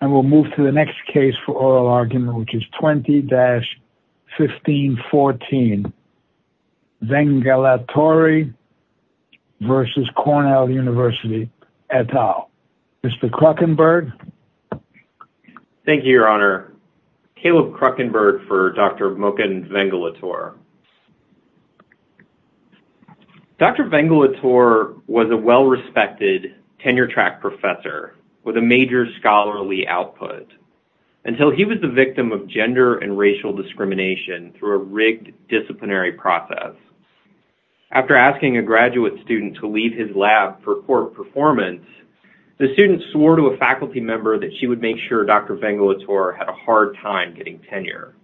And we'll move to the next case for oral argument, which is 20-1514, Vengalattore v. Cornell University et al. Mr. Kruckenberg. Thank you, Your Honor. Caleb Kruckenberg for Dr. Moken Vengalattore. Dr. Vengalattore was a well-respected tenure-track professor with a major scholarly output, until he was the victim of gender and racial discrimination through a rigged disciplinary process. After asking a graduate student to leave his lab for court performance, the student swore to a faculty member that she would make sure Dr. Vengalattore had a hard time getting tenure.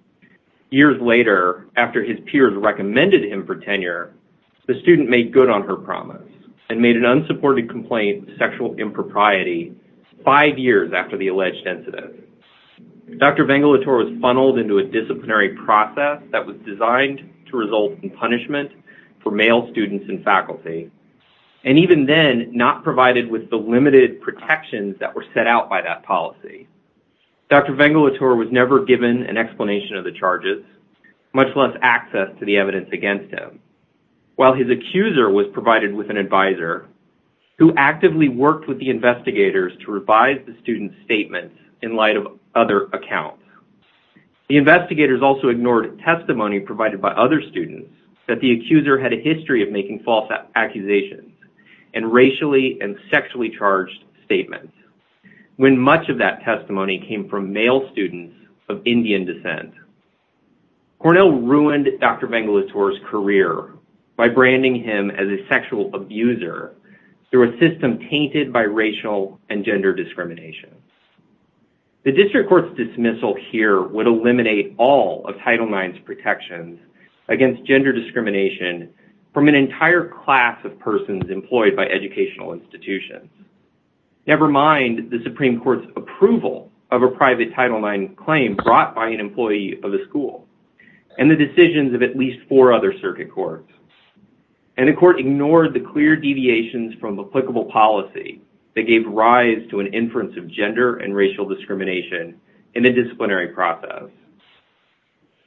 Years later, after his peers recommended him for tenure, the student made good on her promise and made an unsupported complaint of sexual impropriety five years after the alleged incident. Dr. Vengalattore was funneled into a disciplinary process that was designed to result in punishment for male students and faculty, and even then not provided with the limited protections that were set out by that policy. Dr. Vengalattore was never given an explanation of the charges, much less access to the evidence against him, while his accuser was provided with an advisor who actively worked with the investigators to revise the student's statements in light of other accounts. The investigators also ignored testimony provided by other students that the accuser had a history of making false accusations and racially and sexually charged statements. When much of that testimony came from male students of Indian descent, Cornell ruined Dr. Vengalattore's career by branding him as a sexual abuser through a system tainted by racial and gender discrimination. The district court's dismissal here would eliminate all of Title IX's protections against gender discrimination from an entire class of persons employed by educational institutions. Never mind the Supreme Court's approval of a private Title IX claim brought by an employee of a school and the decisions of at least four other circuit courts. And the court ignored the clear deviations from applicable policy that gave rise to an inference of gender and racial discrimination in the disciplinary process.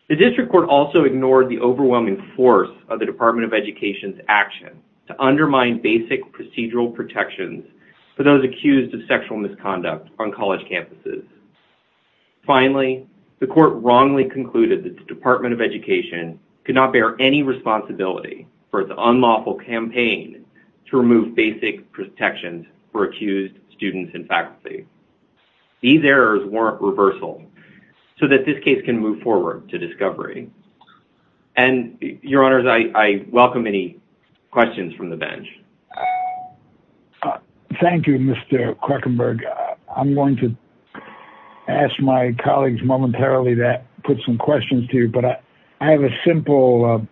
The district court also ignored the overwhelming force of the Department of Education's action to undermine basic procedural protections for those accused of sexual misconduct on college campuses. Finally, the court wrongly concluded that the Department of Education could not bear any responsibility for its unlawful campaign to remove basic protections for accused students and faculty. These errors warrant reversal so that this case can move forward to discovery. And, Your Honors, I welcome any questions from the bench. Thank you, Mr. Krockenberg. I'm going to ask my colleagues momentarily to put some questions to you, but I have a simple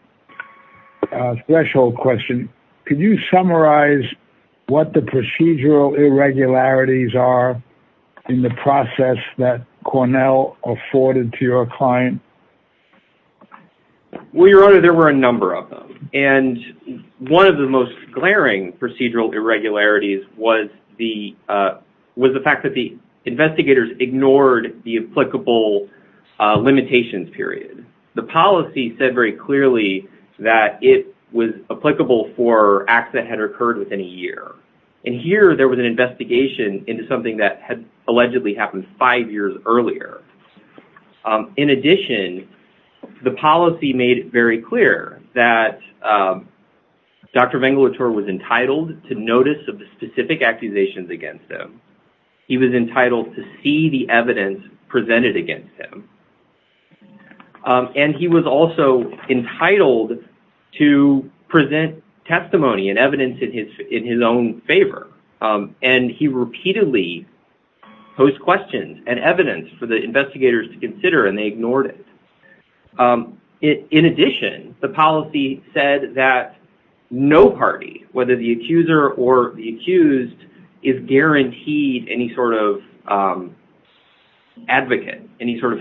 threshold question. Could you summarize what the procedural irregularities are in the process that Cornell afforded to your client? Well, Your Honor, there were a number of them. And one of the most glaring procedural irregularities was the fact that the investigators ignored the applicable limitations period. The policy said very clearly that it was applicable for acts that had occurred within a year. And here there was an investigation into something that had allegedly happened five years earlier. In addition, the policy made it very clear that Dr. Vengelator was entitled to notice of the specific accusations against him. He was entitled to see the evidence presented against him. And he was also entitled to present testimony and evidence in his own favor. And he repeatedly posed questions and evidence for the investigators to consider, and they ignored it. In addition, the policy said that no party, whether the accuser or the accused, is guaranteed any sort of advocate, any sort of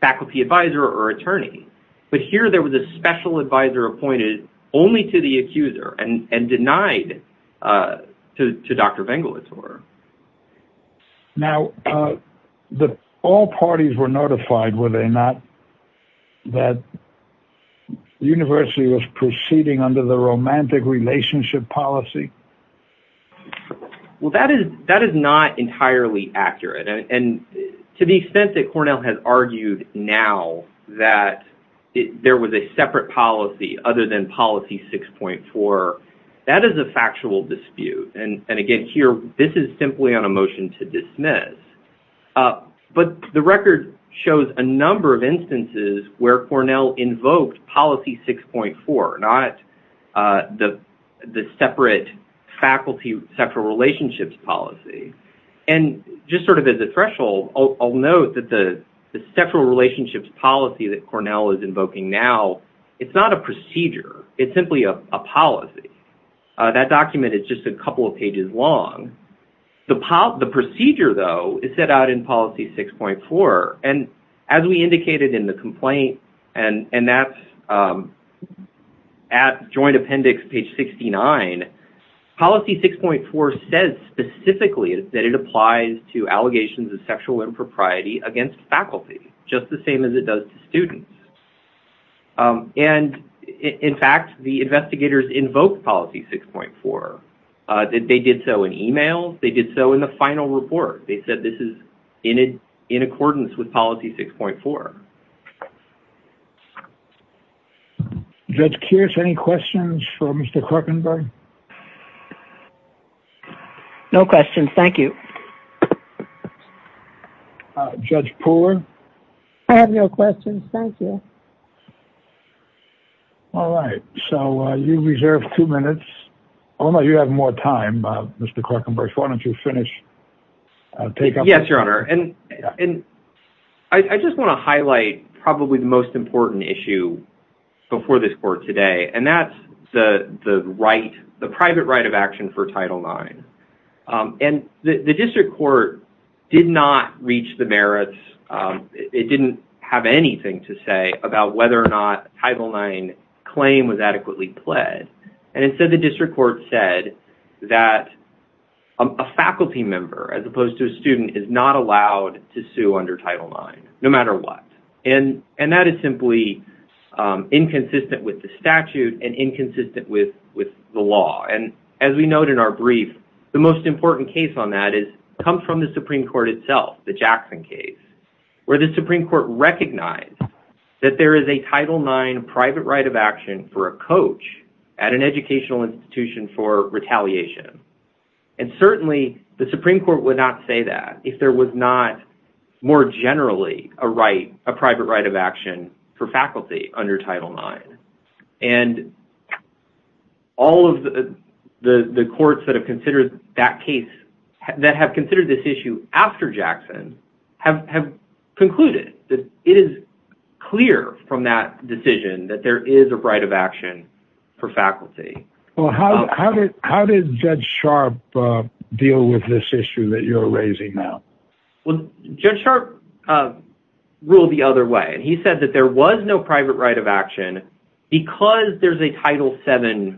faculty advisor or attorney. But here there was a special advisor appointed only to the accuser and denied to Dr. Vengelator. Now, all parties were notified, were they not, that the university was proceeding under the romantic relationship policy? Well, that is not entirely accurate. And to the extent that Cornell has argued now that there was a separate policy other than policy 6.4, that is a factual dispute. And again, here this is simply on a motion to dismiss. But the record shows a number of instances where Cornell invoked policy 6.4, not the separate faculty sexual relationships policy. And just sort of as a threshold, I'll note that the sexual relationships policy that Cornell is invoking now, it's not a procedure. It's simply a policy. That document is just a couple of pages long. The procedure, though, is set out in policy 6.4. And as we indicated in the complaint, and that's at joint appendix page 69, policy 6.4 says specifically that it applies to allegations of sexual impropriety against faculty, just the same as it does to students. And in fact, the investigators invoked policy 6.4. They did so in e-mails. They did so in the final report. They said this is in accordance with policy 6.4. Judge Kears, any questions for Mr. Korkenberg? No questions. Thank you. Judge Pooler? I have no questions. Thank you. All right. So you reserve two minutes. Oh, no, you have more time, Mr. Korkenberg. Why don't you finish? Yes, Your Honor. And I just want to highlight probably the most important issue before this court today. And that's the right, the private right of action for Title IX. And the district court did not reach the merits. It didn't have anything to say about whether or not Title IX claim was adequately pled. And instead, the district court said that a faculty member, as opposed to a student, is not allowed to sue under Title IX, no matter what. And that is simply inconsistent with the statute and inconsistent with the law. And as we note in our brief, the most important case on that is, comes from the Supreme Court itself, the Jackson case, where the Supreme Court recognized that there is a Title IX private right of action for a coach at an educational institution for retaliation. And certainly the Supreme Court would not say that if there was not more generally a right, a private right of action for faculty under Title IX. And all of the courts that have considered that case, that have considered this issue after Jackson, have concluded that it is clear from that decision that there is a right of action for faculty. Well, how did Judge Sharp deal with this issue that you're raising now? Well, Judge Sharp ruled the other way. And he said that there was no private right of action because there's a Title VII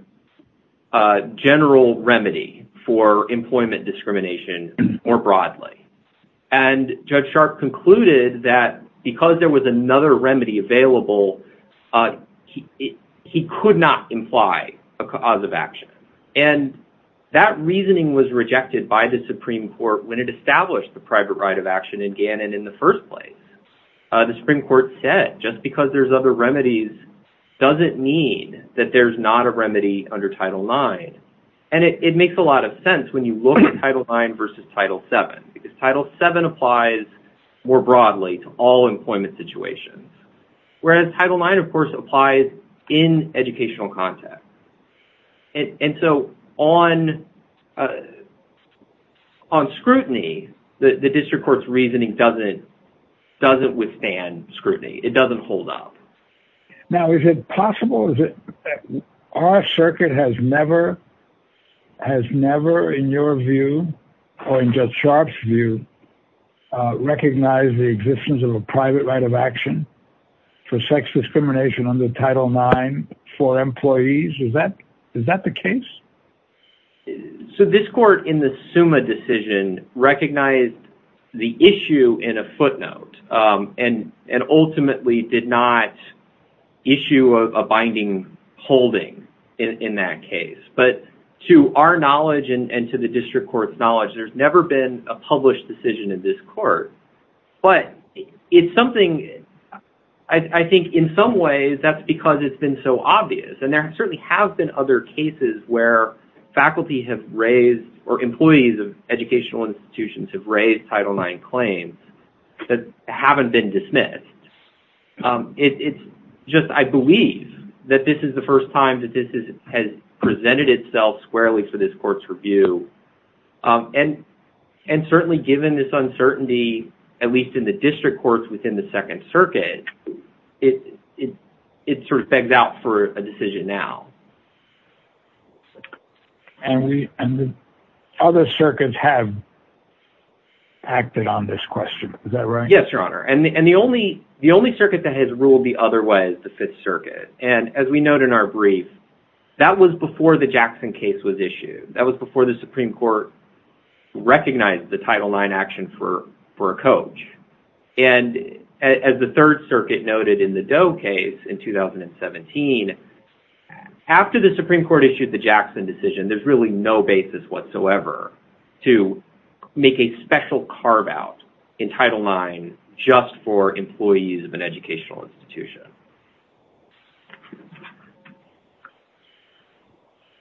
general remedy for employment discrimination more broadly. And Judge Sharp concluded that because there was another remedy available, he could not imply a cause of action. And that reasoning was rejected by the Supreme Court when it established the private right of action in Gannon in the first place. The Supreme Court said just because there's other remedies doesn't mean that there's not a remedy under Title IX. And it makes a lot of sense when you look at Title IX versus Title VII because Title VII applies more broadly to all employment situations. Whereas Title IX, of course, applies in educational context. And so on scrutiny, the district court's reasoning doesn't withstand scrutiny. It doesn't hold up. Now, is it possible? Our circuit has never, in your view or in Judge Sharp's view, recognized the existence of a private right of action for sex discrimination under Title IX for employees? Is that the case? So this court in the SUMA decision recognized the issue in a footnote and ultimately did not issue a binding holding in that case. But to our knowledge and to the district court's knowledge, there's never been a published decision in this court. But it's something I think in some ways that's because it's been so obvious. And there certainly have been other cases where faculty have raised or employees of educational institutions have raised Title IX claims that haven't been dismissed. It's just I believe that this is the first time that this has presented itself squarely for this court's review. And certainly given this uncertainty, at least in the district courts, within the Second Circuit, it sort of begs out for a decision now. And other circuits have acted on this question. Is that right? Yes, Your Honor. And the only circuit that has ruled the other way is the Fifth Circuit. And as we note in our brief, that was before the Jackson case was issued. That was before the Supreme Court recognized the Title IX action for a coach. And as the Third Circuit noted in the Doe case in 2017, after the Supreme Court issued the Jackson decision, there's really no basis whatsoever to make a special carve-out in Title IX just for employees of an educational institution.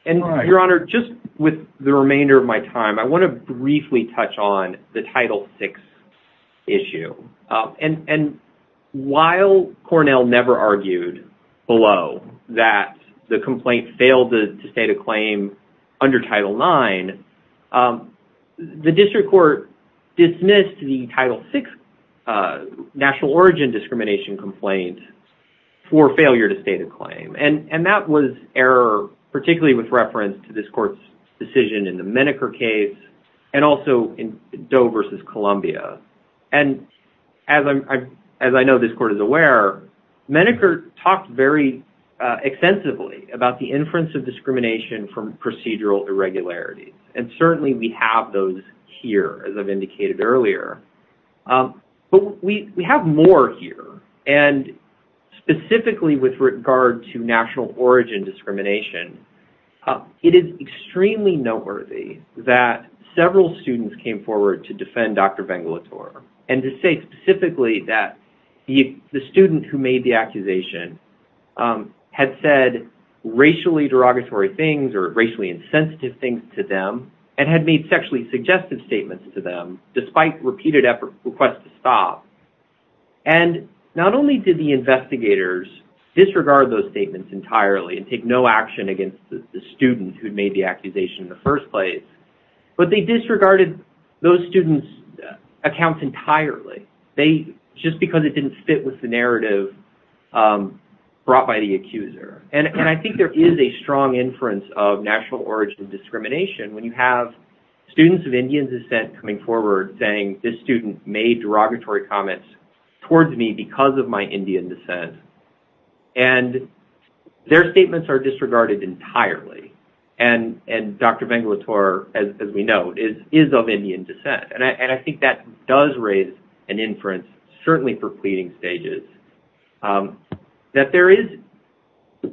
And, Your Honor, just with the remainder of my time, I want to briefly touch on the Title VI issue. And while Cornell never argued below that the complaint failed to state a claim under Title IX, the district court dismissed the Title VI national origin discrimination complaint for failure to state a claim. And that was error, particularly with reference to this court's decision in the Menneker case and also in Doe v. Columbia. And as I know this court is aware, Menneker talked very extensively about the inference of discrimination from procedural irregularities. And certainly we have those here, as I've indicated earlier. But we have more here. And specifically with regard to national origin discrimination, it is extremely noteworthy that several students came forward to defend Dr. Bengelator and to say specifically that the student who made the accusation had said racially derogatory things or racially insensitive things to them and had made sexually suggestive statements to them despite repeated requests to stop. And not only did the investigators disregard those statements entirely and take no action against the student who made the accusation in the first place, but they disregarded those students' accounts entirely, just because it didn't fit with the narrative brought by the accuser. And I think there is a strong inference of national origin discrimination when you have students of Indian descent coming forward saying, this student made derogatory comments towards me because of my Indian descent. And their statements are disregarded entirely. And Dr. Bengelator, as we know, is of Indian descent. And I think that does raise an inference, certainly for pleading stages, that there is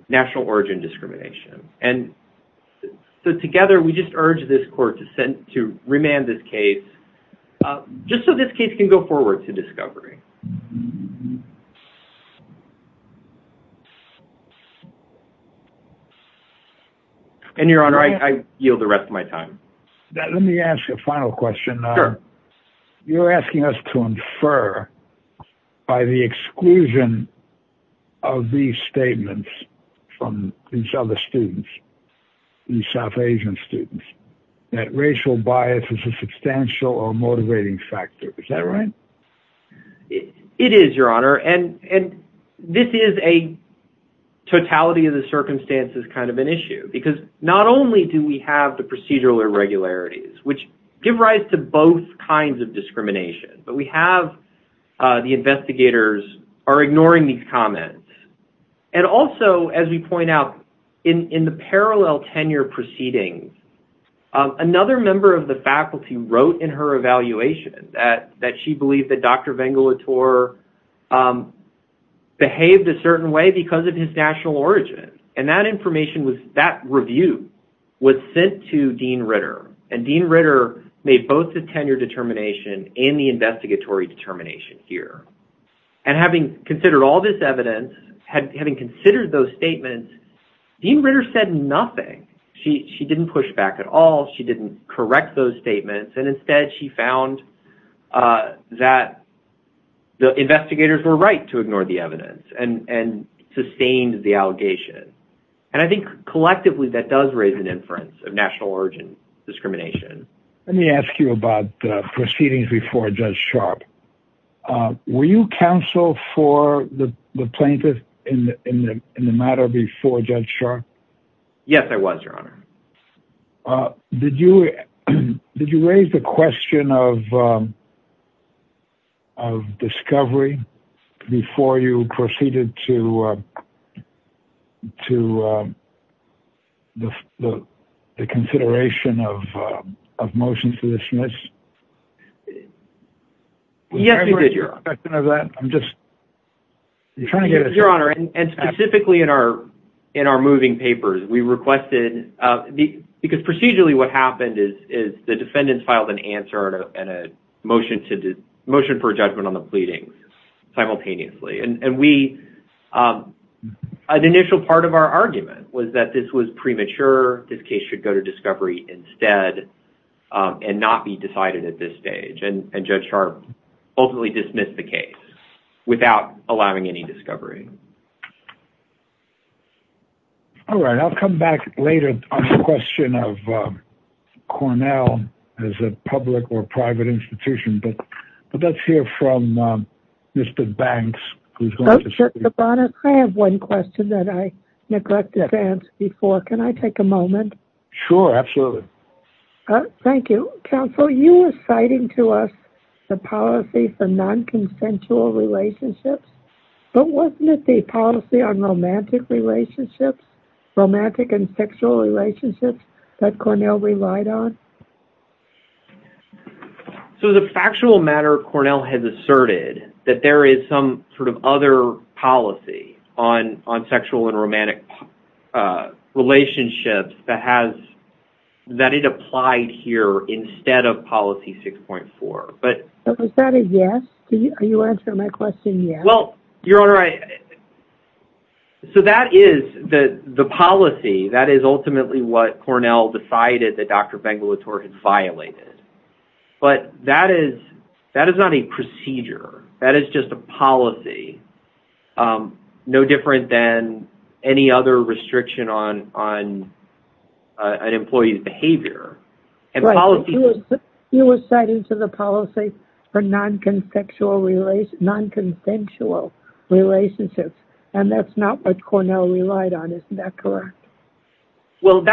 national origin discrimination. And so together, we just urge this court to remand this case just so this case can go forward to discovery. And, Your Honor, I yield the rest of my time. Let me ask a final question. You're asking us to infer by the exclusion of these statements from these other students, these South Asian students, that racial bias is a substantial or motivating factor. Is that right? It is, Your Honor. And this is a totality of the circumstances kind of an issue because not only do we have the procedural irregularities, which give rise to both kinds of discrimination, but we have the investigators are ignoring these comments. And also, as we point out, in the parallel tenure proceedings, another member of the faculty wrote in her evaluation that she believed that Dr. Bengelator behaved a certain way because of his national origin. And that information was, that review was sent to Dean Ritter. And Dean Ritter made both the tenure determination and the investigatory determination here. And having considered all this evidence, having considered those statements, Dean Ritter said nothing. She didn't push back at all. She didn't correct those statements. And instead, she found that the investigators were right to ignore the evidence and sustained the allegation. And I think collectively, that does raise an inference of national origin discrimination. Let me ask you about the proceedings before Judge Sharp. Were you counsel for the plaintiff in the matter before Judge Sharp? Yes, I was, Your Honor. Did you raise the question of discovery before you proceeded to the consideration of motions to dismiss? Yes, we did, Your Honor. Did you raise the question of that? I'm just trying to get a sense. Yes, Your Honor. And specifically in our moving papers, we requested, because procedurally what happened is the defendants filed an answer and a motion for judgment on the pleadings simultaneously. And an initial part of our argument was that this was premature. This case should go to discovery instead and not be decided at this stage. And Judge Sharp ultimately dismissed the case without allowing any discovery. All right, I'll come back later on the question of Cornell as a public or private institution. But let's hear from Mr. Banks. Your Honor, I have one question that I neglected to ask before. Can I take a moment? Sure, absolutely. Thank you. Counsel, you were citing to us the policy for non-consensual relationships. But wasn't it the policy on romantic relationships, romantic and sexual relationships that Cornell relied on? So as a factual matter, Cornell has asserted that there is some sort of other policy on sexual and romantic relationships that it applied here instead of policy 6.4. Was that a yes? Are you answering my question yes? Well, Your Honor, so that is the policy. That is ultimately what Cornell decided that Dr. Bengelator had violated. But that is not a procedure. That is just a policy, no different than any other restriction on an employee's behavior. You were citing to the policy for non-consensual relationships, and that's not what Cornell relied on. Isn't that correct? Well,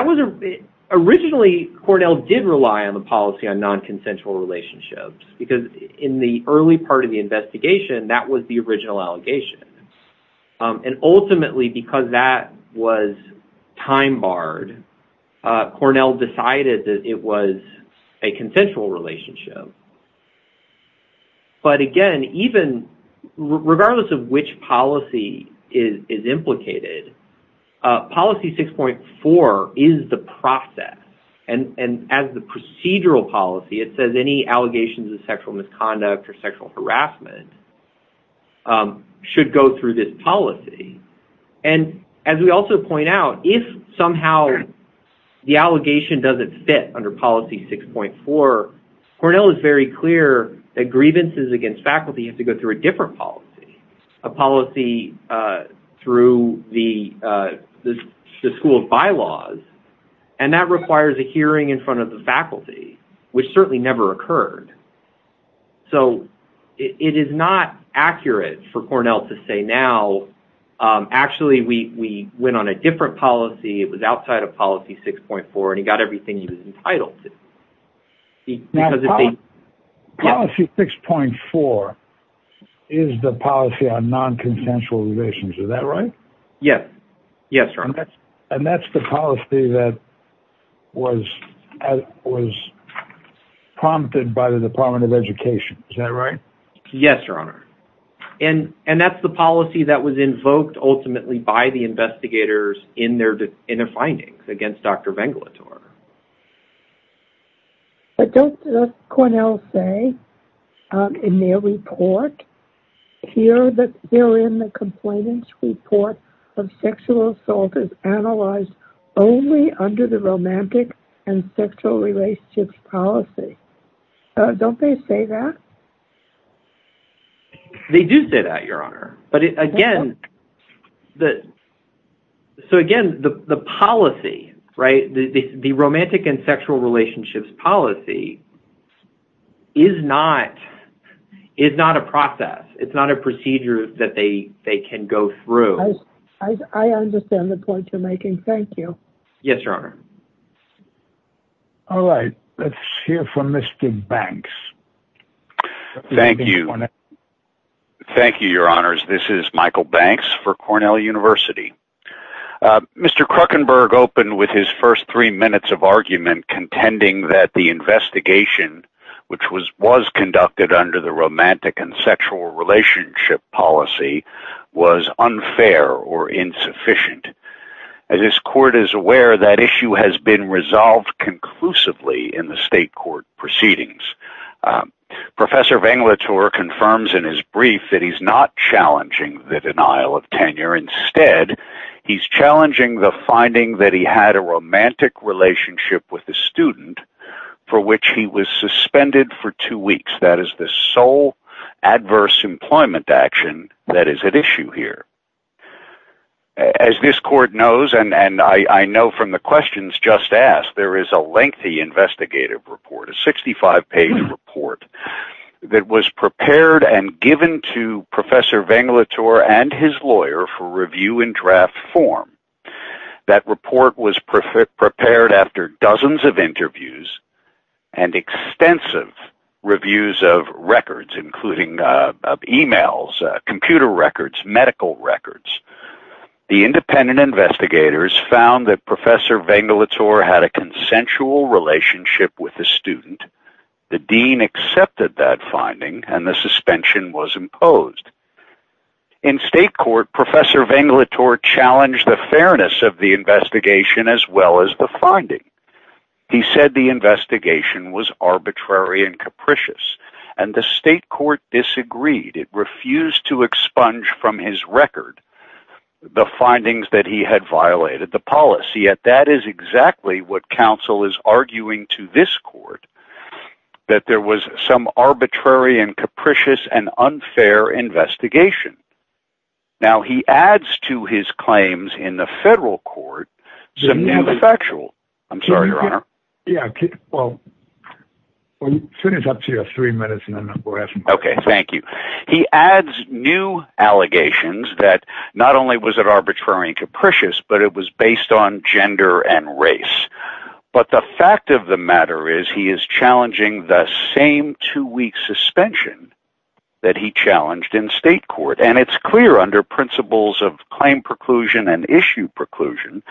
originally Cornell did rely on the policy on non-consensual relationships because in the early part of the investigation, that was the original allegation. And ultimately, because that was time barred, Cornell decided that it was a consensual relationship. But again, even regardless of which policy is implicated, policy 6.4 is the process. And as the procedural policy, it says any allegations of sexual misconduct or sexual harassment should go through this policy. And as we also point out, if somehow the allegation doesn't fit under policy 6.4, Cornell is very clear that grievances against faculty have to go through a different policy, a policy through the school's bylaws. And that requires a hearing in front of the faculty, which certainly never occurred. So it is not accurate for Cornell to say, now, actually, we went on a different policy. It was outside of policy 6.4, and he got everything he was entitled to. Policy 6.4 is the policy on non-consensual relations. Is that right? Yes. Yes, sir. And that's the policy that was prompted by the Department of Education. Is that right? Yes, your honor. And that's the policy that was invoked ultimately by the investigators in their findings against Dr. Venglator. But don't Cornell say in their report here that they're in the complainant's report of sexual assault is analyzed only under the romantic and sexual relationships policy? Don't they say that? They do say that, your honor. But again, so again, the policy, right, the romantic and sexual relationships policy is not a process. It's not a procedure that they can go through. I understand the point you're making. Thank you. Yes, your honor. All right. Let's hear from Mr. Banks. Thank you. Thank you, your honors. This is Michael Banks for Cornell University. Mr. Kruckenberg opened with his first three minutes of argument contending that the investigation, which was conducted under the romantic and sexual relationship policy, was unfair or insufficient. As this court is aware, that issue has been resolved conclusively in the state court proceedings. Professor Venglator confirms in his brief that he's not challenging the denial of tenure. Instead, he's challenging the finding that he had a romantic relationship with a student for which he was suspended for two weeks. That is the sole adverse employment action that is at issue here. As this court knows, and I know from the questions just asked, there is a lengthy investigative report, a 65-page report that was prepared and given to Professor Venglator and his lawyer for review in draft form. That report was prepared after dozens of interviews and extensive reviews of records, including emails, computer records, medical records. The independent investigators found that Professor Venglator had a consensual relationship with the student. The dean accepted that finding and the suspension was imposed. In state court, Professor Venglator challenged the fairness of the investigation as well as the finding. He said the investigation was arbitrary and capricious, and the state court disagreed. It refused to expunge from his record the findings that he had violated the policy, yet that is exactly what counsel is arguing to this court, that there was some arbitrary and capricious and unfair investigation. Now, he adds to his claims in the federal court some new factual... I'm sorry, Your Honor. Yeah, well, soon as up to you have three minutes, and then we'll ask him questions. Okay, thank you. He adds new allegations that not only was it arbitrary and capricious, but it was based on gender and race. But the fact of the matter is he is challenging the same two-week suspension that he challenged in state court, and it's clear under principles of claim preclusion and issue preclusion,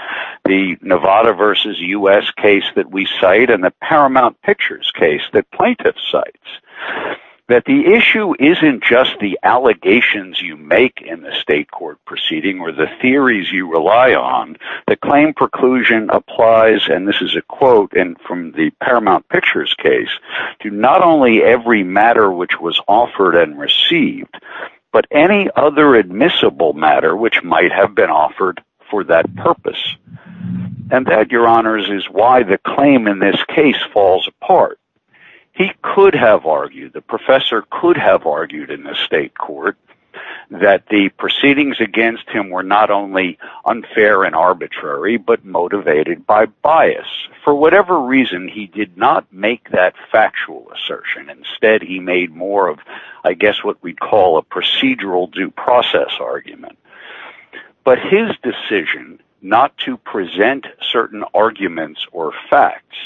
the Nevada versus U.S. case that we cite and the Paramount Pictures case that plaintiff cites, that the issue isn't just the allegations you make in the state court proceeding or the theories you rely on. The claim preclusion applies, and this is a quote from the Paramount Pictures case, to not only every matter which was offered and received, but any other admissible matter which might have been offered for that purpose. And that, Your Honors, is why the claim in this case falls apart. He could have argued, the professor could have argued in the state court, that the proceedings against him were not only unfair and arbitrary, but motivated by bias. For whatever reason, he did not make that factual assertion. Instead, he made more of, I guess what we'd call a procedural due process argument. But his decision not to present certain arguments or facts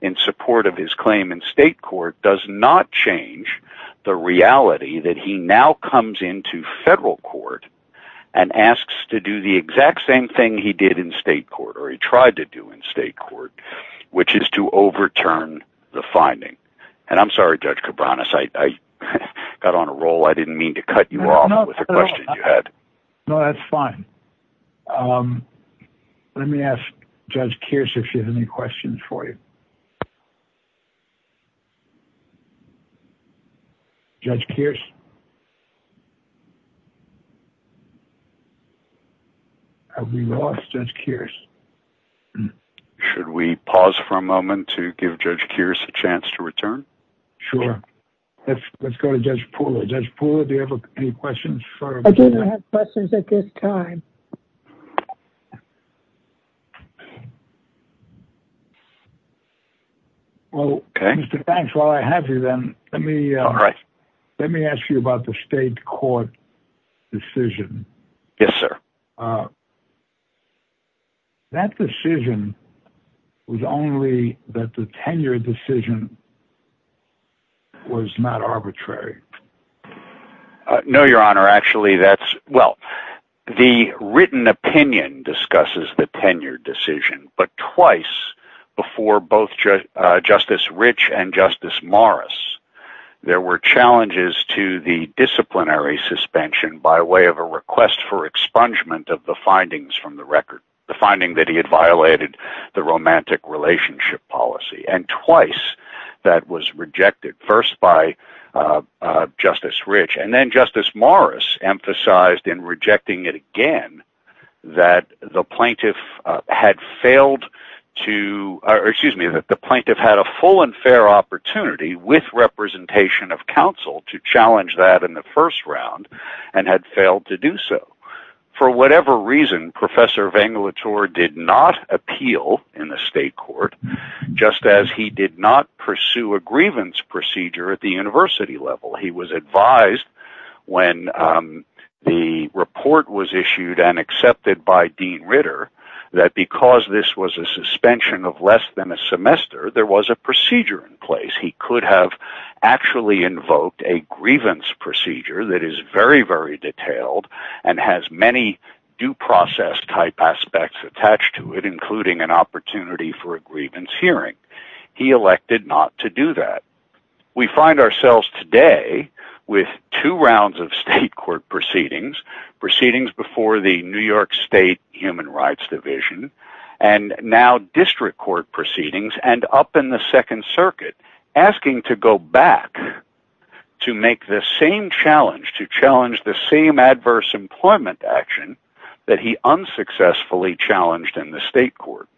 in support of his claim in state court does not change the reality that he now comes into federal court and asks to do the exact same thing he did in state court, or he tried to do in state court, which is to overturn the finding. And I'm sorry, Judge Cabranes, I got on a roll. I didn't mean to cut you off with the question you had. No, that's fine. Let me ask Judge Kearse if he has any questions for you. Judge Kearse? Have we lost Judge Kearse? Should we pause for a moment to give Judge Kearse a chance to return? Sure. Let's go to Judge Pooler. Judge Pooler, do you have any questions? I do not have questions at this time. Okay. Well, Mr. Banks, while I have you then, let me ask you about the state court decision. Yes, sir. That decision was only that the tenure decision was not arbitrary. No, Your Honor. Actually, that's... The written opinion discusses the tenure decision, but twice before both Justice Rich and Justice Morris, there were challenges to the disciplinary suspension by way of a request for expungement of the findings from the record. The finding that he had violated the romantic relationship policy. And twice that was rejected. First by Justice Rich, and then Justice Morris emphasized in rejecting it again that the plaintiff had a full and fair opportunity with representation of counsel to challenge that in the first round and had failed to do so. For whatever reason, Professor Vengelator did not appeal in the state court, just as he did not pursue a grievance procedure at the university level. He was advised when the report was issued and accepted by Dean Ritter that because this was a suspension of less than a semester, there was a procedure in place. He could have actually invoked a grievance procedure that is very, very detailed and has many due process type aspects attached to it, including an opportunity for a grievance hearing. He elected not to do that. We find ourselves today with two rounds of state court proceedings. Proceedings before the New York State Human Rights Division and now district court proceedings and up in the Second Circuit asking to go back to make the same challenge, to challenge the same adverse employment action that he unsuccessfully challenged in the state court.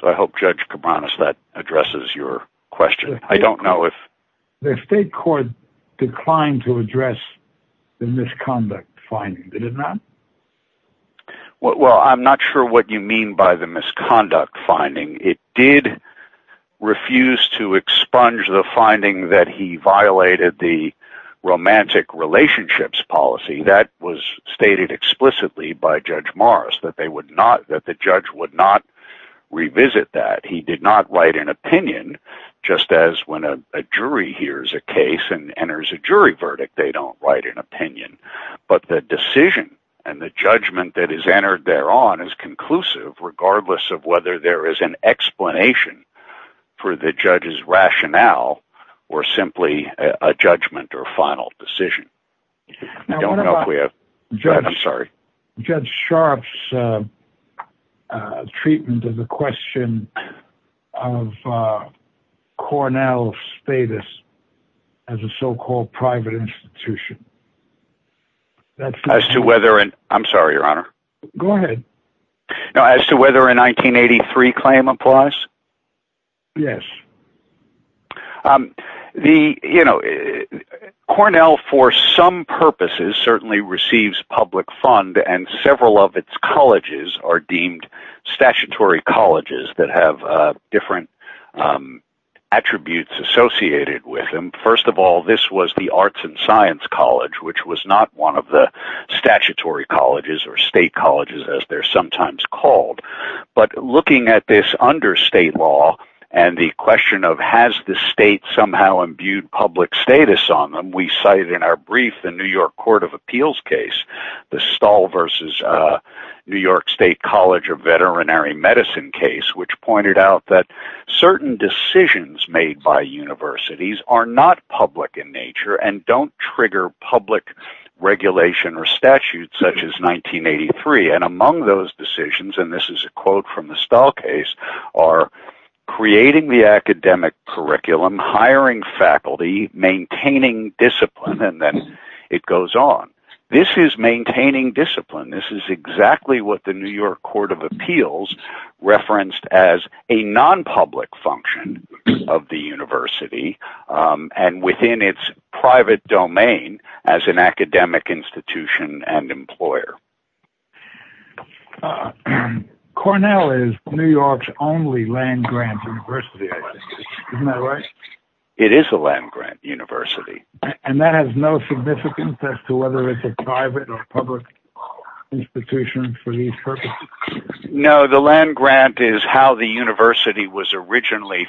So I hope, Judge Cabranes, that addresses your question. I don't know if... The state court declined to address the misconduct finding, did it not? Well, I'm not sure what you mean by the misconduct finding. It did refuse to expunge the finding that he violated the romantic relationships policy. That was stated explicitly by Judge Morris, that the judge would not revisit that. He did not write an opinion, just as when a jury hears a case and enters a jury verdict, they don't write an opinion. But the decision and the judgment that is entered thereon is conclusive, regardless of whether there is an explanation for the judge's rationale or simply a judgment or final decision. I don't know if we have... I'm sorry. Judge Sharpe's treatment of the question of Cornell's status as a so-called private institution... As to whether... I'm sorry, Your Honor. Go ahead. As to whether a 1983 claim applies? Yes. The, you know... Cornell, for some purposes, certainly receives public fund and several of its colleges are deemed statutory colleges that have different attributes associated with them. First of all, this was the Arts and Science College, which was not one of the statutory colleges or state colleges, as they're sometimes called. But looking at this under state law and the question of has the state somehow imbued public status on them, we cite in our brief the New York Court of Appeals case, the Stahl v. New York State College of Veterinary Medicine case, which pointed out that certain decisions made by universities are not public in nature and don't trigger public regulation or statutes such as 1983. And among those decisions, and this is a quote from the Stahl case, are creating the academic curriculum, hiring faculty, maintaining discipline, and then it goes on. This is maintaining discipline. This is exactly what the New York Court of Appeals referenced as a non-public function of the university and within its private domain as an academic institution and employer. Cornell is New York's only land-grant university, isn't that right? It is a land-grant university. And that has no significance as to whether it's a private or public institution for these purposes? No, the land-grant is how the university was originally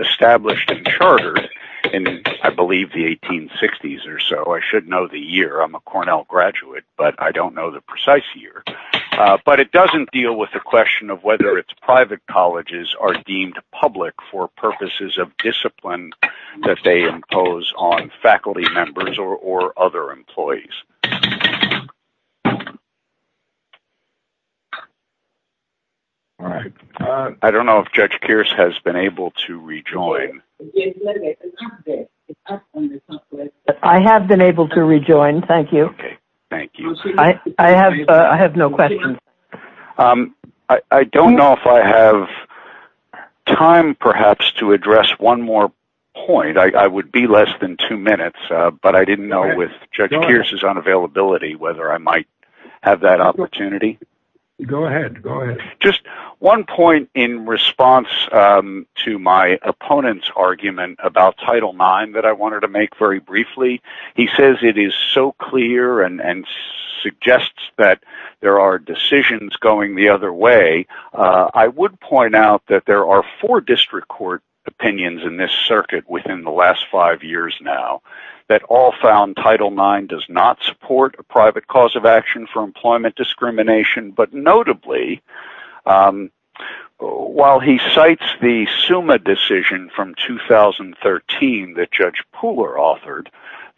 established and chartered in, I believe, the 1860s or so. I should know the year. I'm a Cornell graduate, but I don't know the precise year. But it doesn't deal with the question of whether its private colleges are deemed public for purposes of discipline that they impose on faculty members or other employees. All right. I don't know if Judge Kearse has been able to rejoin. I have been able to rejoin. Thank you. Thank you. I have no questions. I don't know if I have time perhaps to address one more point. I would be less than two minutes, but I didn't know with Judge Kearse's unavailability whether I might have that opportunity. Go ahead. Just one point in response to my opponent's argument about Title IX that I wanted to make very briefly. He says it is so clear and suggests that there are decisions going the other way. I would point out that there are four district court opinions in this circuit within the last five years now that all found Title IX does not support a private cause of action for employment discrimination, but notably, while he cites the SUMA decision from 2013 that Judge Pooler authored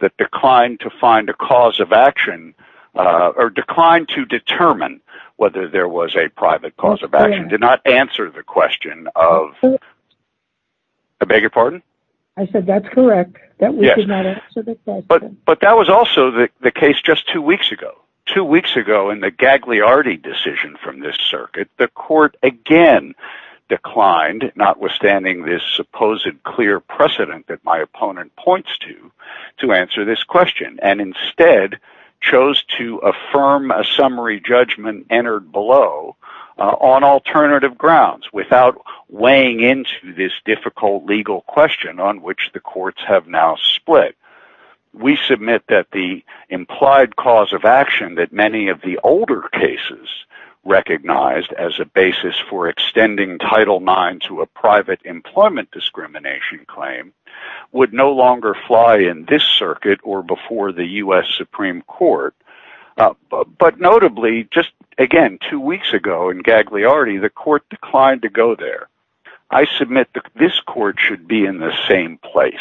that declined to find a cause of action or declined to determine whether there was a private cause of action, did not answer the question of... I beg your pardon? I said that's correct. That we did not answer the question. But that was also the case just two weeks ago. Two weeks ago in the Gagliardi decision from this circuit, the court again declined, notwithstanding this supposed clear precedent that my opponent points to, to answer this question and instead chose to affirm a summary judgment entered below on alternative grounds without weighing into this difficult legal question on which the courts have now split. We submit that the implied cause of action that many of the older cases recognized as a basis for extending Title IX to a private employment discrimination claim would no longer fly in this circuit or before the U.S. Supreme Court, but notably, just again two weeks ago in Gagliardi, the court declined to go there. I submit that this court should be in the same place.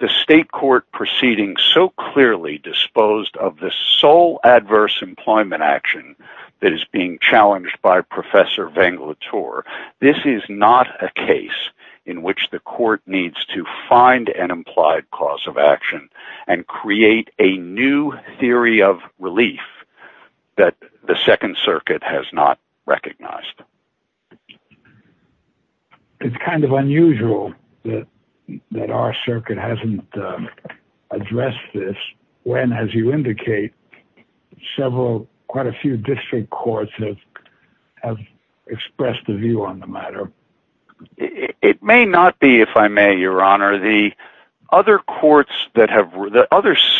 The state court proceeding so clearly disposed of the sole adverse employment action that is being challenged by Professor Venglator, this is not a case in which the court needs to find an implied cause of action and create a new theory of relief that the Second Circuit has not recognized. It's kind of unusual that our circuit hasn't addressed this when, as you indicate, quite a few district courts have expressed a view on the matter. It may not be, if I may, Your Honor. The other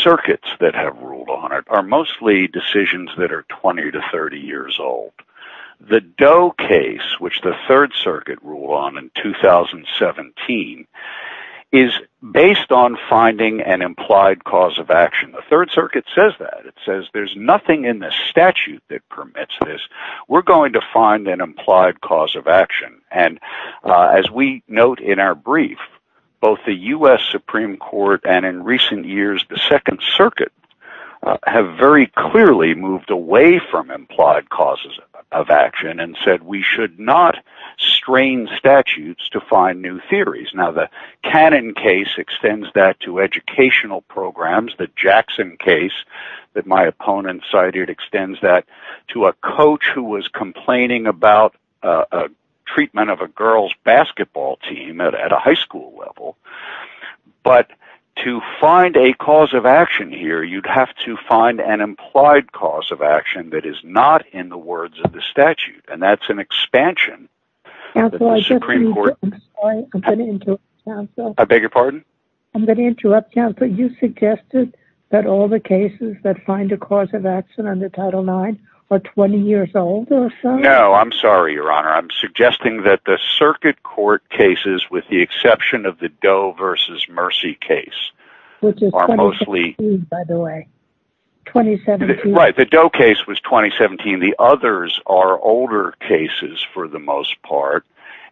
circuits that have ruled on it are mostly decisions that are 20 to 30 years old. The Doe case, which the Third Circuit ruled on in 2017, is based on finding an implied cause of action. The Third Circuit says that. It says there's nothing in the statute that permits this. We're going to find an implied cause of action. As we note in our brief, both the U.S. Supreme Court and in recent years the Second Circuit have very clearly moved away from implied causes of action and said we should not strain statutes to find new theories. Now, the Cannon case extends that to educational programs. The Jackson case that my opponent cited extends that to a coach who was complaining about treatment of a girl's basketball team at a high school level, but to find a cause of action, you'd have to find an implied cause of action that is not in the words of the statute, and that's an expansion of the Supreme Court. Counsel, I'm sorry. I'm going to interrupt, Counsel. I beg your pardon? I'm going to interrupt, Counsel. You suggested that all the cases that find a cause of action under Title IX are 20 years old or so? No, I'm sorry, Your Honor. I'm suggesting that the circuit court cases, with the exception of the Doe v. Mercy case, which is 2016, by the way, 2017. Right, the Doe case was 2017. The others are older cases for the most part,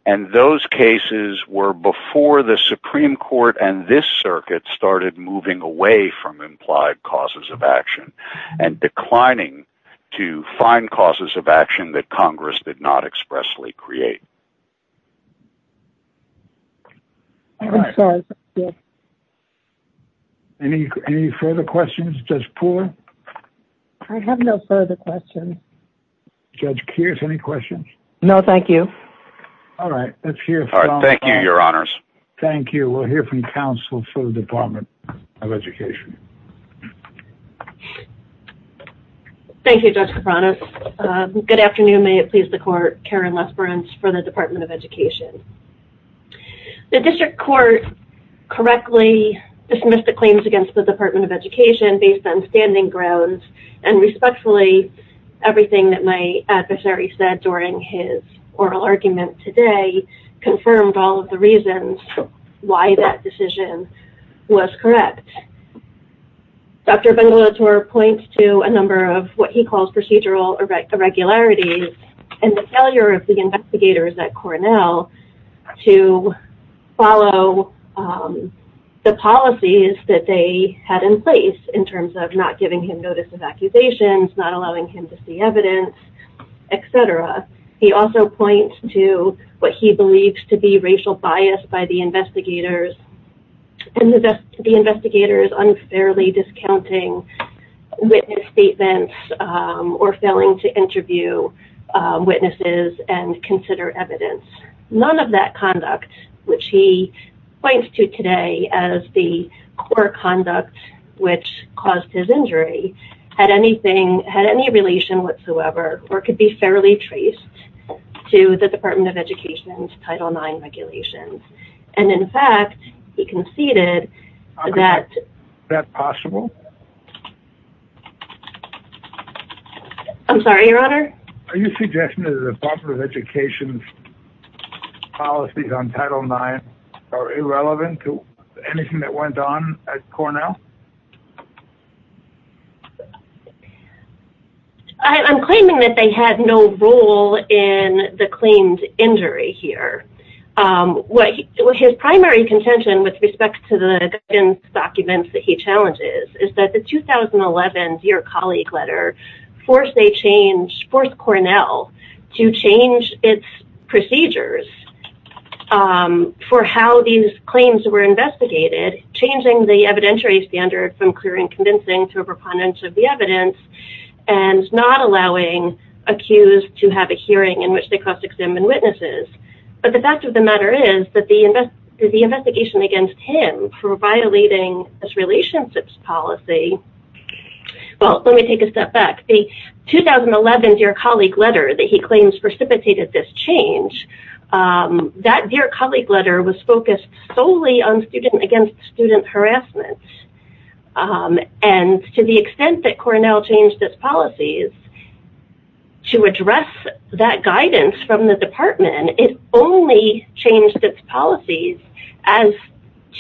and those cases were before the Supreme Court and this circuit started moving away from implied causes of action and declining to find causes of action that Congress did not expressly create. I'm sorry. Any further questions? Judge Pooler? I have no further questions. Judge Keirs, any questions? No, thank you. All right. Thank you, Your Honors. Thank you. We'll hear from Counsel for the Department of Education. Thank you, Judge Kapranos. Good afternoon. May it please the Court, Karen Lesperance for the Department of Education. The district court correctly dismissed the claims against the Department of Education based on standing grounds, and respectfully, everything that my adversary said during his oral argument today confirmed all of the reasons why that decision was correct. Dr. Bengelator points to a number of what he calls procedural irregularities, and the failure of the investigators at Cornell to follow the policies that they had in place in terms of not giving him notice of accusations, not allowing him to see evidence, etc. He also points to what he believes to be racial bias by the investigators, and the investigators unfairly discounting witness statements or failing to interview witnesses and consider evidence. None of that conduct, which he points to today as the core conduct which caused his injury, had any relation whatsoever or could be fairly traced to the Department of Education's Title IX regulations. And in fact, he conceded that... Is that possible? I'm sorry, Your Honor? Are you suggesting that the Department of Education's policies on Title IX are irrelevant to anything that went on at Cornell? I'm claiming that they had no role in the claimed injury here. His primary contention with respect to the guidance documents that he challenges is that the 2011 Dear Colleague Letter forced Cornell to change its procedures for how these claims were investigated, changing the evidentiary standard from clear and convincing to a preponderance of the evidence, and not allowing accused to have a hearing in which they cross-examine witnesses. But the fact of the matter is that the investigation against him for violating his relationships policy... Well, let me take a step back. The 2011 Dear Colleague Letter that he claims precipitated this change, that Dear Colleague Letter was focused solely on student-against-student harassment. And to the extent that Cornell changed its policies, to address that guidance from the department, it only changed its policies as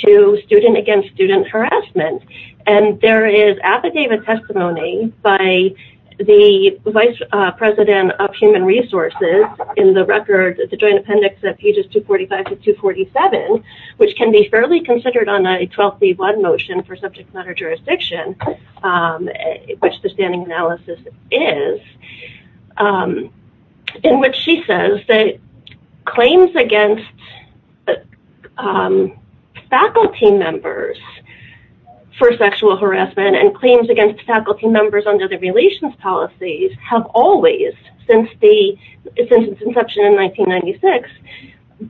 to student-against-student harassment. And there is affidavit testimony by the Vice President of Human Resources in the record, the Joint Appendix at pages 245 to 247, which can be fairly considered on a 12C1 motion for subject matter jurisdiction, which the standing analysis is, in which she says that claims against faculty members for sexual harassment and claims against faculty members under the relations policies have always, since its inception in 1996,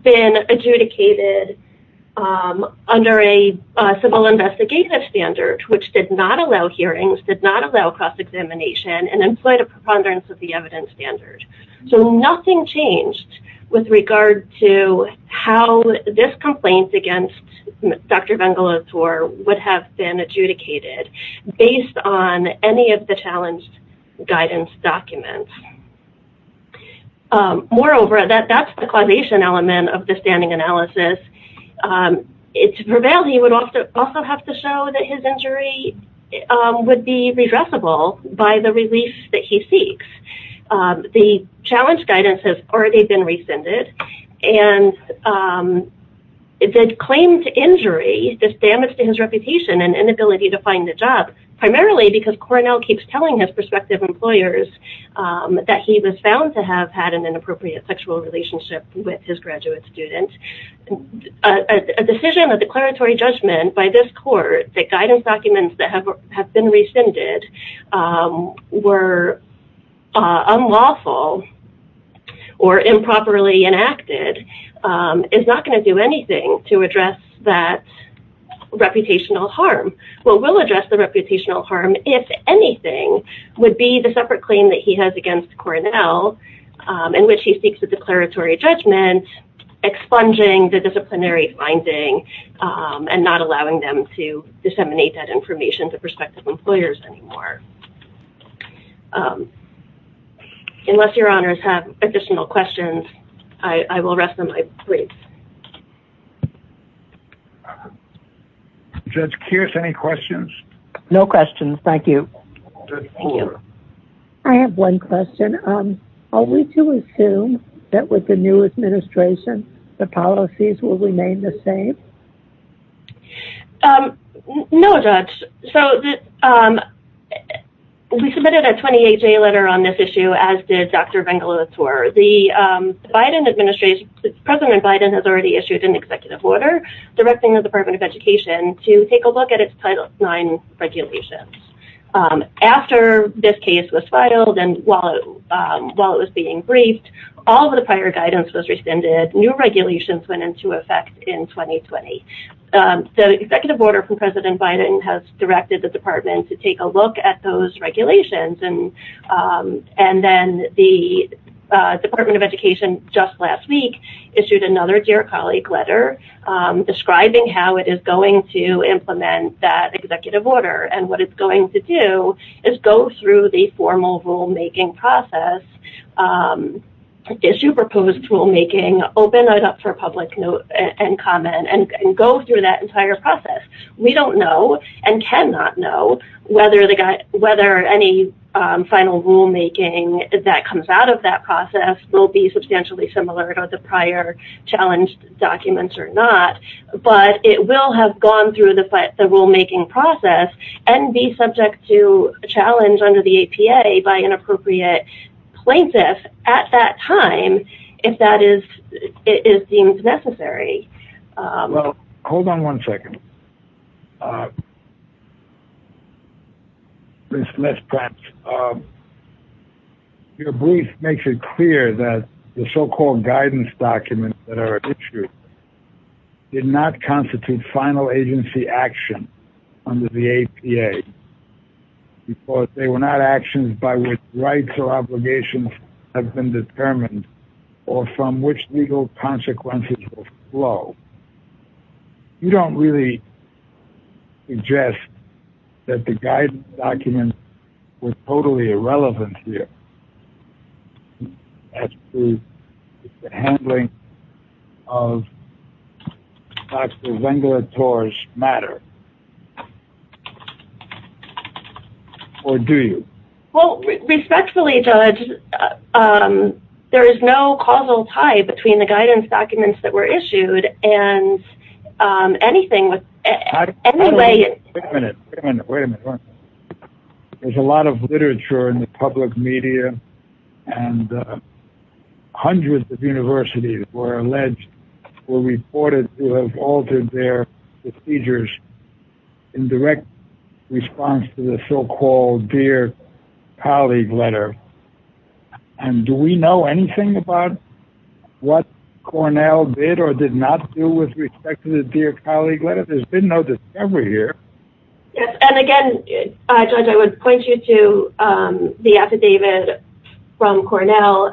been adjudicated under a civil investigative standard, which did not allow hearings, did not allow cross-examination, and employed a preponderance of the evidence standard. So nothing changed with regard to how this complaint against Dr. Vengelotor would have been adjudicated based on any of the challenged guidance documents. Moreover, that's the causation element of the standing analysis. To prevail, he would also have to show that his injury would be redressable by the relief that he seeks. The challenge guidance has already been rescinded, and the claim to injury, this damage to his reputation and inability to find a job, primarily because Cornell keeps telling his prospective employers that he was found to have had an inappropriate sexual relationship with his graduate students. A decision, a declaratory judgment by this court that guidance documents that have been rescinded were unlawful or improperly enacted is not going to do anything to address that reputational harm. What will address the reputational harm, if anything, would be the separate claim that he has against Cornell in which he seeks a declaratory judgment expunging the disciplinary finding and not allowing them to disseminate that information to prospective employers anymore. Unless your honors have additional questions, I will rest on my briefs. Judge Kearse, any questions? No questions, thank you. Thank you. I have one question. Are we to assume that with the new administration, the policies will remain the same? No, Judge. We submitted a 28-day letter on this issue, as did Dr. Vengelis. President Biden has already issued an executive order directing the Department of Education to take a look at its Title IX regulations. After this case was filed and while it was being briefed, all of the prior guidance was rescinded. New regulations went into effect in 2020. The executive order from President Biden has directed the Department to take a look at those regulations. And then the Department of Education, just last week, issued another dear colleague letter describing how it is going to implement that executive order. And what it's going to do is go through the formal rulemaking process, issue proposed rulemaking, open it up for public note and comment, and go through that entire process. We don't know and cannot know whether any final rulemaking that comes out of that process will be substantially similar to the prior challenge documents or not, but it will have gone through the rulemaking process and be subject to a challenge under the APA by an appropriate plaintiff at that time, if that is deemed necessary. Well, hold on one second. Let's perhaps... Your brief makes it clear that the so-called guidance documents that are issued did not constitute final agency action under the APA, because they were not actions by which rights or obligations have been determined or from which legal consequences will flow. You don't really suggest that the guidance documents were totally irrelevant here. It's the handling of Dr. Zengler-Torres' matter. Or do you? Well, respectfully, Judge, there is no causal tie between the guidance documents that were issued and anything with... Wait a minute. Wait a minute. There's a lot of literature in the public media, and hundreds of universities were alleged, were reported to have altered their procedures in direct response to the so-called dear colleague letter. And do we know anything about what Cornell did or did not do with respect to the dear colleague letter? There's been no discovery here. Yes, and again, Judge, I would point you to the affidavit from Cornell,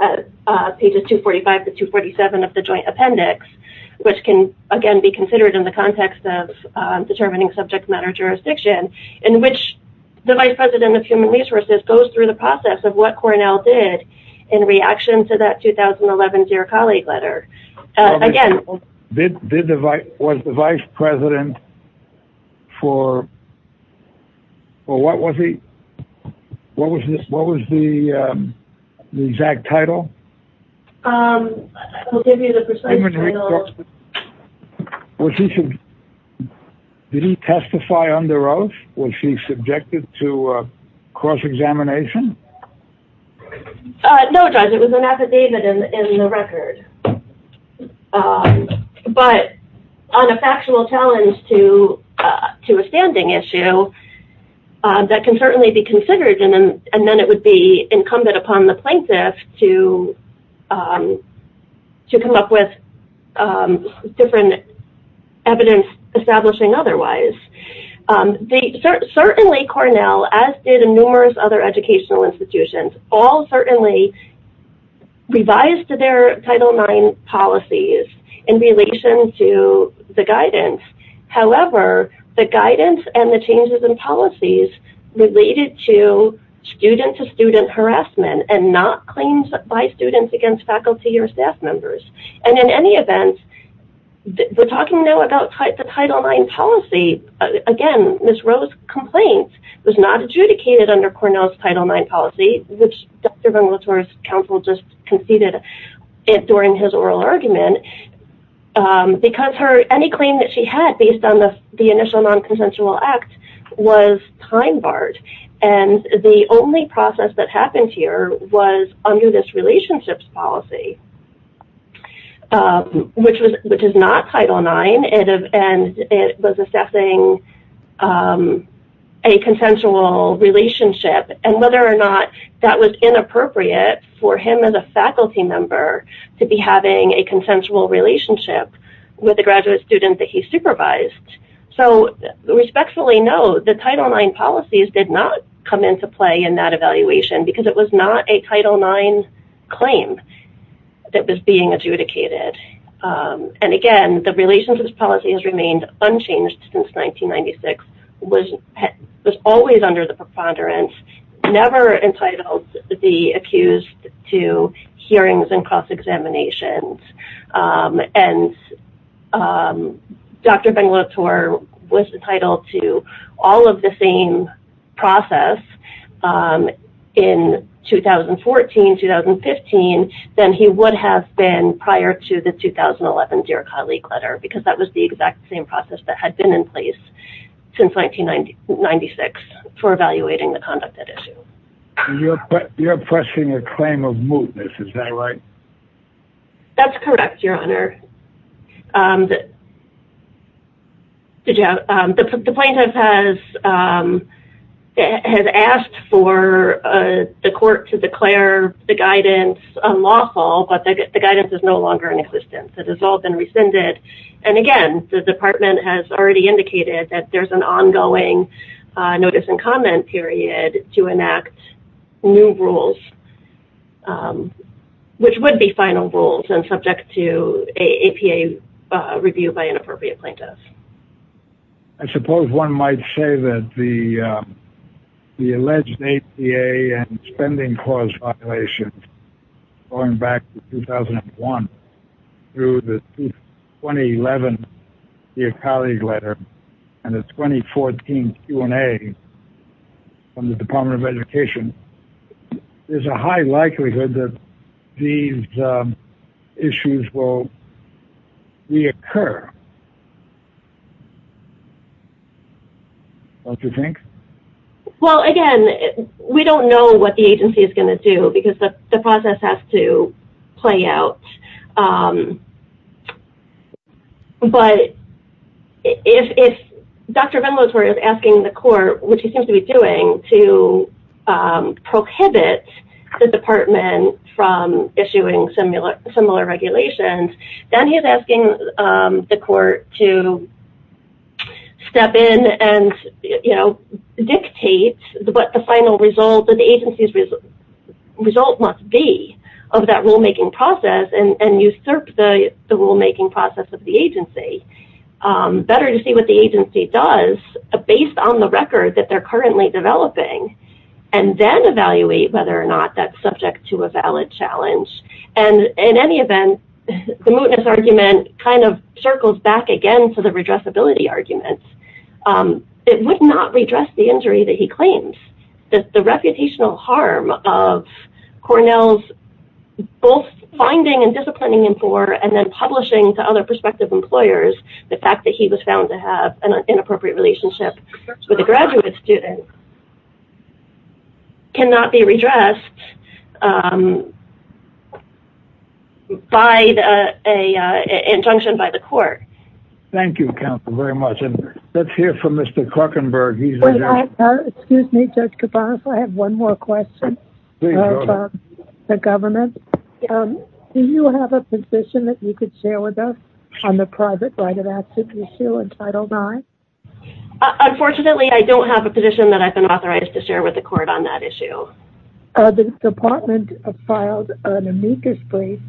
pages 245 to 247 of the joint appendix, which can, again, be considered in the context of determining subject matter jurisdiction, in which the vice president of human resources goes through the process of what Cornell did in reaction to that 2011 dear colleague letter. Was the vice president for... What was the exact title? I'll give you the precise title. Did he testify under oath? Was he subjected to cross-examination? No, Judge, it was an affidavit in the record. But on a factual challenge to a standing issue, that can certainly be considered, and then it would be incumbent upon the plaintiff to come up with different evidence establishing otherwise. Certainly, Cornell, as did numerous other educational institutions, all certainly revised their Title IX policies in relation to the guidance. However, the guidance and the changes in policies related to student-to-student harassment and not claims by students against faculty or staff members. And in any event, we're talking now about the Title IX policy. Again, Ms. Roe's complaint was not adjudicated under Cornell's Title IX policy, which Dr. Venglethorst's counsel just conceded during his oral argument, because any claim that she had based on the initial non-consensual act was time barred. And the only process that happened here was under this relationships policy, which is not Title IX, and it was assessing a consensual relationship, and whether or not that was inappropriate for him as a faculty member to be having a consensual relationship with a graduate student that he supervised. So, respectfully, no, the Title IX policies did not come into play in that evaluation, because it was not a Title IX claim that was being adjudicated. And again, the relationships policy has remained unchanged since 1996, was always under the preponderance, and never entitled the accused to hearings and cross-examinations. And Dr. Venglethorst was entitled to all of the same process in 2014, 2015, than he would have been prior to the 2011 Deer Cod League letter, because that was the exact same process that had been in place since 1996 for evaluating the conduct at issue. You're questioning a claim of mootness, is that right? That's correct, Your Honor. The plaintiff has asked for the court to declare the guidance unlawful, but the guidance is no longer in existence. It has all been rescinded. And again, the department has already indicated that there's an ongoing notice and comment period to enact new rules, which would be final rules and subject to an APA review by an appropriate plaintiff. I suppose one might say that the alleged APA and spending clause violations, going back to 2001 through the 2011 Deer Cod League letter, and the 2014 Q&A from the Department of Education, there's a high likelihood that these issues will reoccur, don't you think? Well, again, we don't know what the agency is going to do, because the process has to play out. But if Dr. Venlatore is asking the court, which he seems to be doing, to prohibit the department from issuing similar regulations, then he's asking the court to step in and dictate what the final result of the agency's result must be of that rulemaking process and usurp the rulemaking process of the agency. Better to see what the agency does based on the record that they're currently developing and then evaluate whether or not that's subject to a valid challenge. And in any event, the mootness argument kind of circles back again to the redressability argument. It would not redress the injury that he claims. The reputational harm of Cornell's both finding and disciplining him for and then publishing to other prospective employers the fact that he was found to have an inappropriate relationship with a graduate student cannot be redressed by an injunction by the court. Thank you, counsel, very much. And let's hear from Mr. Klockenberg. Excuse me, Judge Cabanas, I have one more question for the government. Do you have a position that you could share with us on the private right of access issue in Title IX? Unfortunately, I don't have a position that I've been authorized to share with the court on that issue. The department filed an amicus brief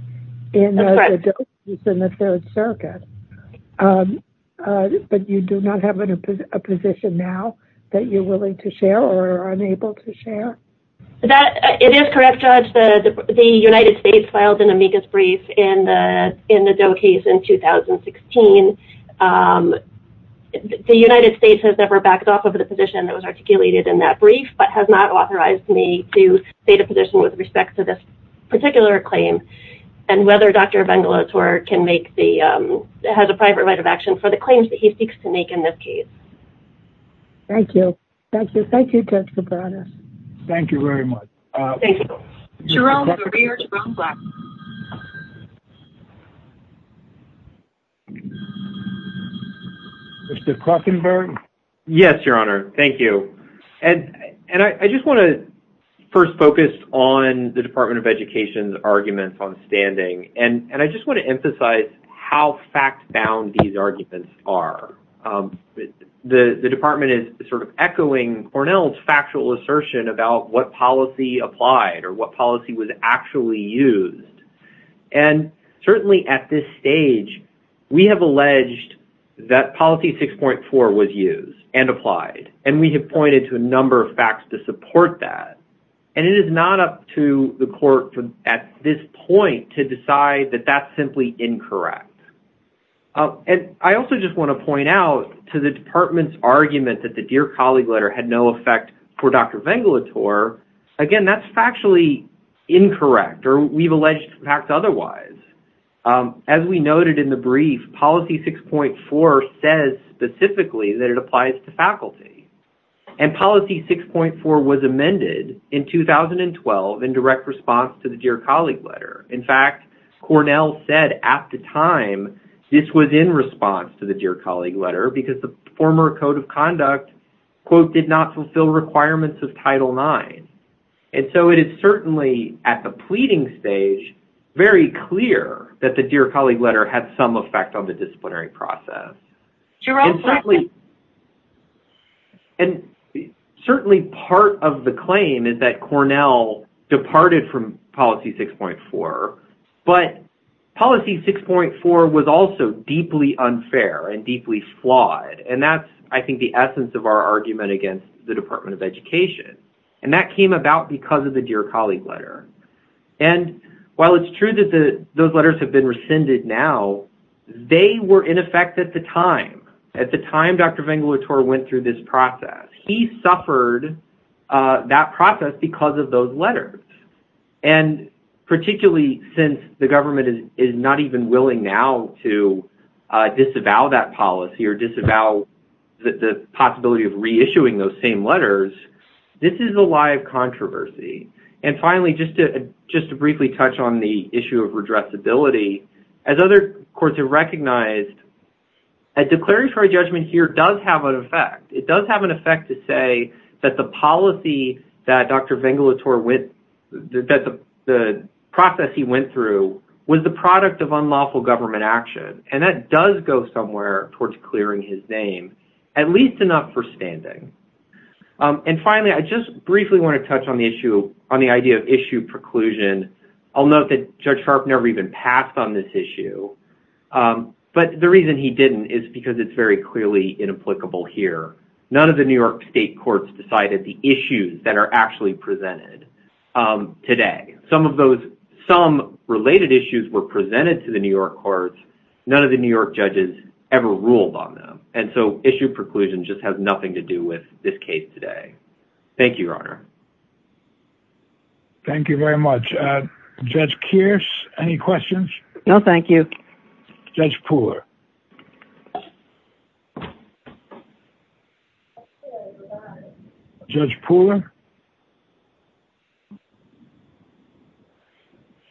in the Third Circuit. But you do not have a position now that you're willing to share or are unable to share? It is correct, Judge. The United States filed an amicus brief in the Doe case in 2016. The United States has never backed off of the position that was articulated in that brief but has not authorized me to state a position with respect to this particular claim and whether Dr. Vengelotor has a private right of action for the claims that he seeks to make in this case. Thank you. Thank you, Judge Cabanas. Thank you very much. Thank you. Mr. Klockenberg? Yes, Your Honor, thank you. And I just want to first focus on the Department of Education's arguments on standing. And I just want to emphasize how fact-bound these arguments are. The department is sort of echoing Cornell's factual assertion about what policy applied or what policy was actually used. And certainly at this stage, we have alleged that policy 6.4 was used and applied. And we have pointed to a number of facts to support that. And it is not up to the court at this point to decide that that's simply incorrect. And I also just want to point out to the department's argument that the Dear Colleague letter had no effect for Dr. Vengelotor, again, that's factually incorrect or we've alleged facts otherwise. As we noted in the brief, policy 6.4 says specifically that it applies to faculty. And policy 6.4 was amended in 2012 in direct response to the Dear Colleague letter. In fact, Cornell said at the time this was in response to the Dear Colleague letter because the former Code of Conduct, quote, did not fulfill requirements of Title IX. And so it is certainly at the pleading stage very clear that the Dear Colleague letter had some effect on the disciplinary process. And certainly part of the claim is that Cornell departed from policy 6.4. But policy 6.4 was also deeply unfair and deeply flawed. And that's, I think, the essence of our argument against the Department of Education. And that came about because of the Dear Colleague letter. And while it's true that those letters have been rescinded now, they were in effect at the time, at the time Dr. Vengelotor went through this process. He suffered that process because of those letters. And particularly since the government is not even willing now to disavow that policy or disavow the possibility of reissuing those same letters, this is a live controversy. And finally, just to briefly touch on the issue of redressability, as other courts have recognized, a declaratory judgment here does have an effect. It does have an effect to say that the policy that Dr. Vengelotor went, that the process he went through, was the product of unlawful government action. And that does go somewhere towards clearing his name, at least enough for standing. And finally, I just briefly want to touch on the issue, on the idea of issue preclusion. I'll note that Judge Sharpe never even passed on this issue. But the reason he didn't is because it's very clearly inapplicable here. None of the New York state courts decided the issues that are actually presented today. Some of those, some related issues were presented to the New York courts. None of the New York judges ever ruled on them. And so issue preclusion just has nothing to do with this case today. Thank you, Your Honor. Thank you very much. Judge Kearse, any questions? No, thank you. Judge Pooler. Judge Pooler?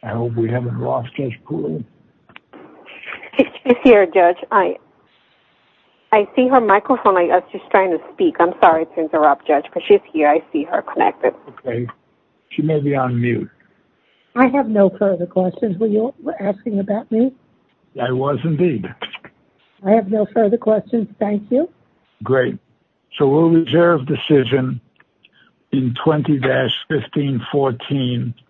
I hope we haven't lost Judge Pooler. She's here, Judge. I see her microphone. I was just trying to speak. I'm sorry to interrupt, Judge, but she's here. I see her connected. Okay. She may be on mute. I have no further questions. Were you asking about me? I was, indeed. I have no further questions. Thank you. Great. So we'll reserve decision in 20-1514.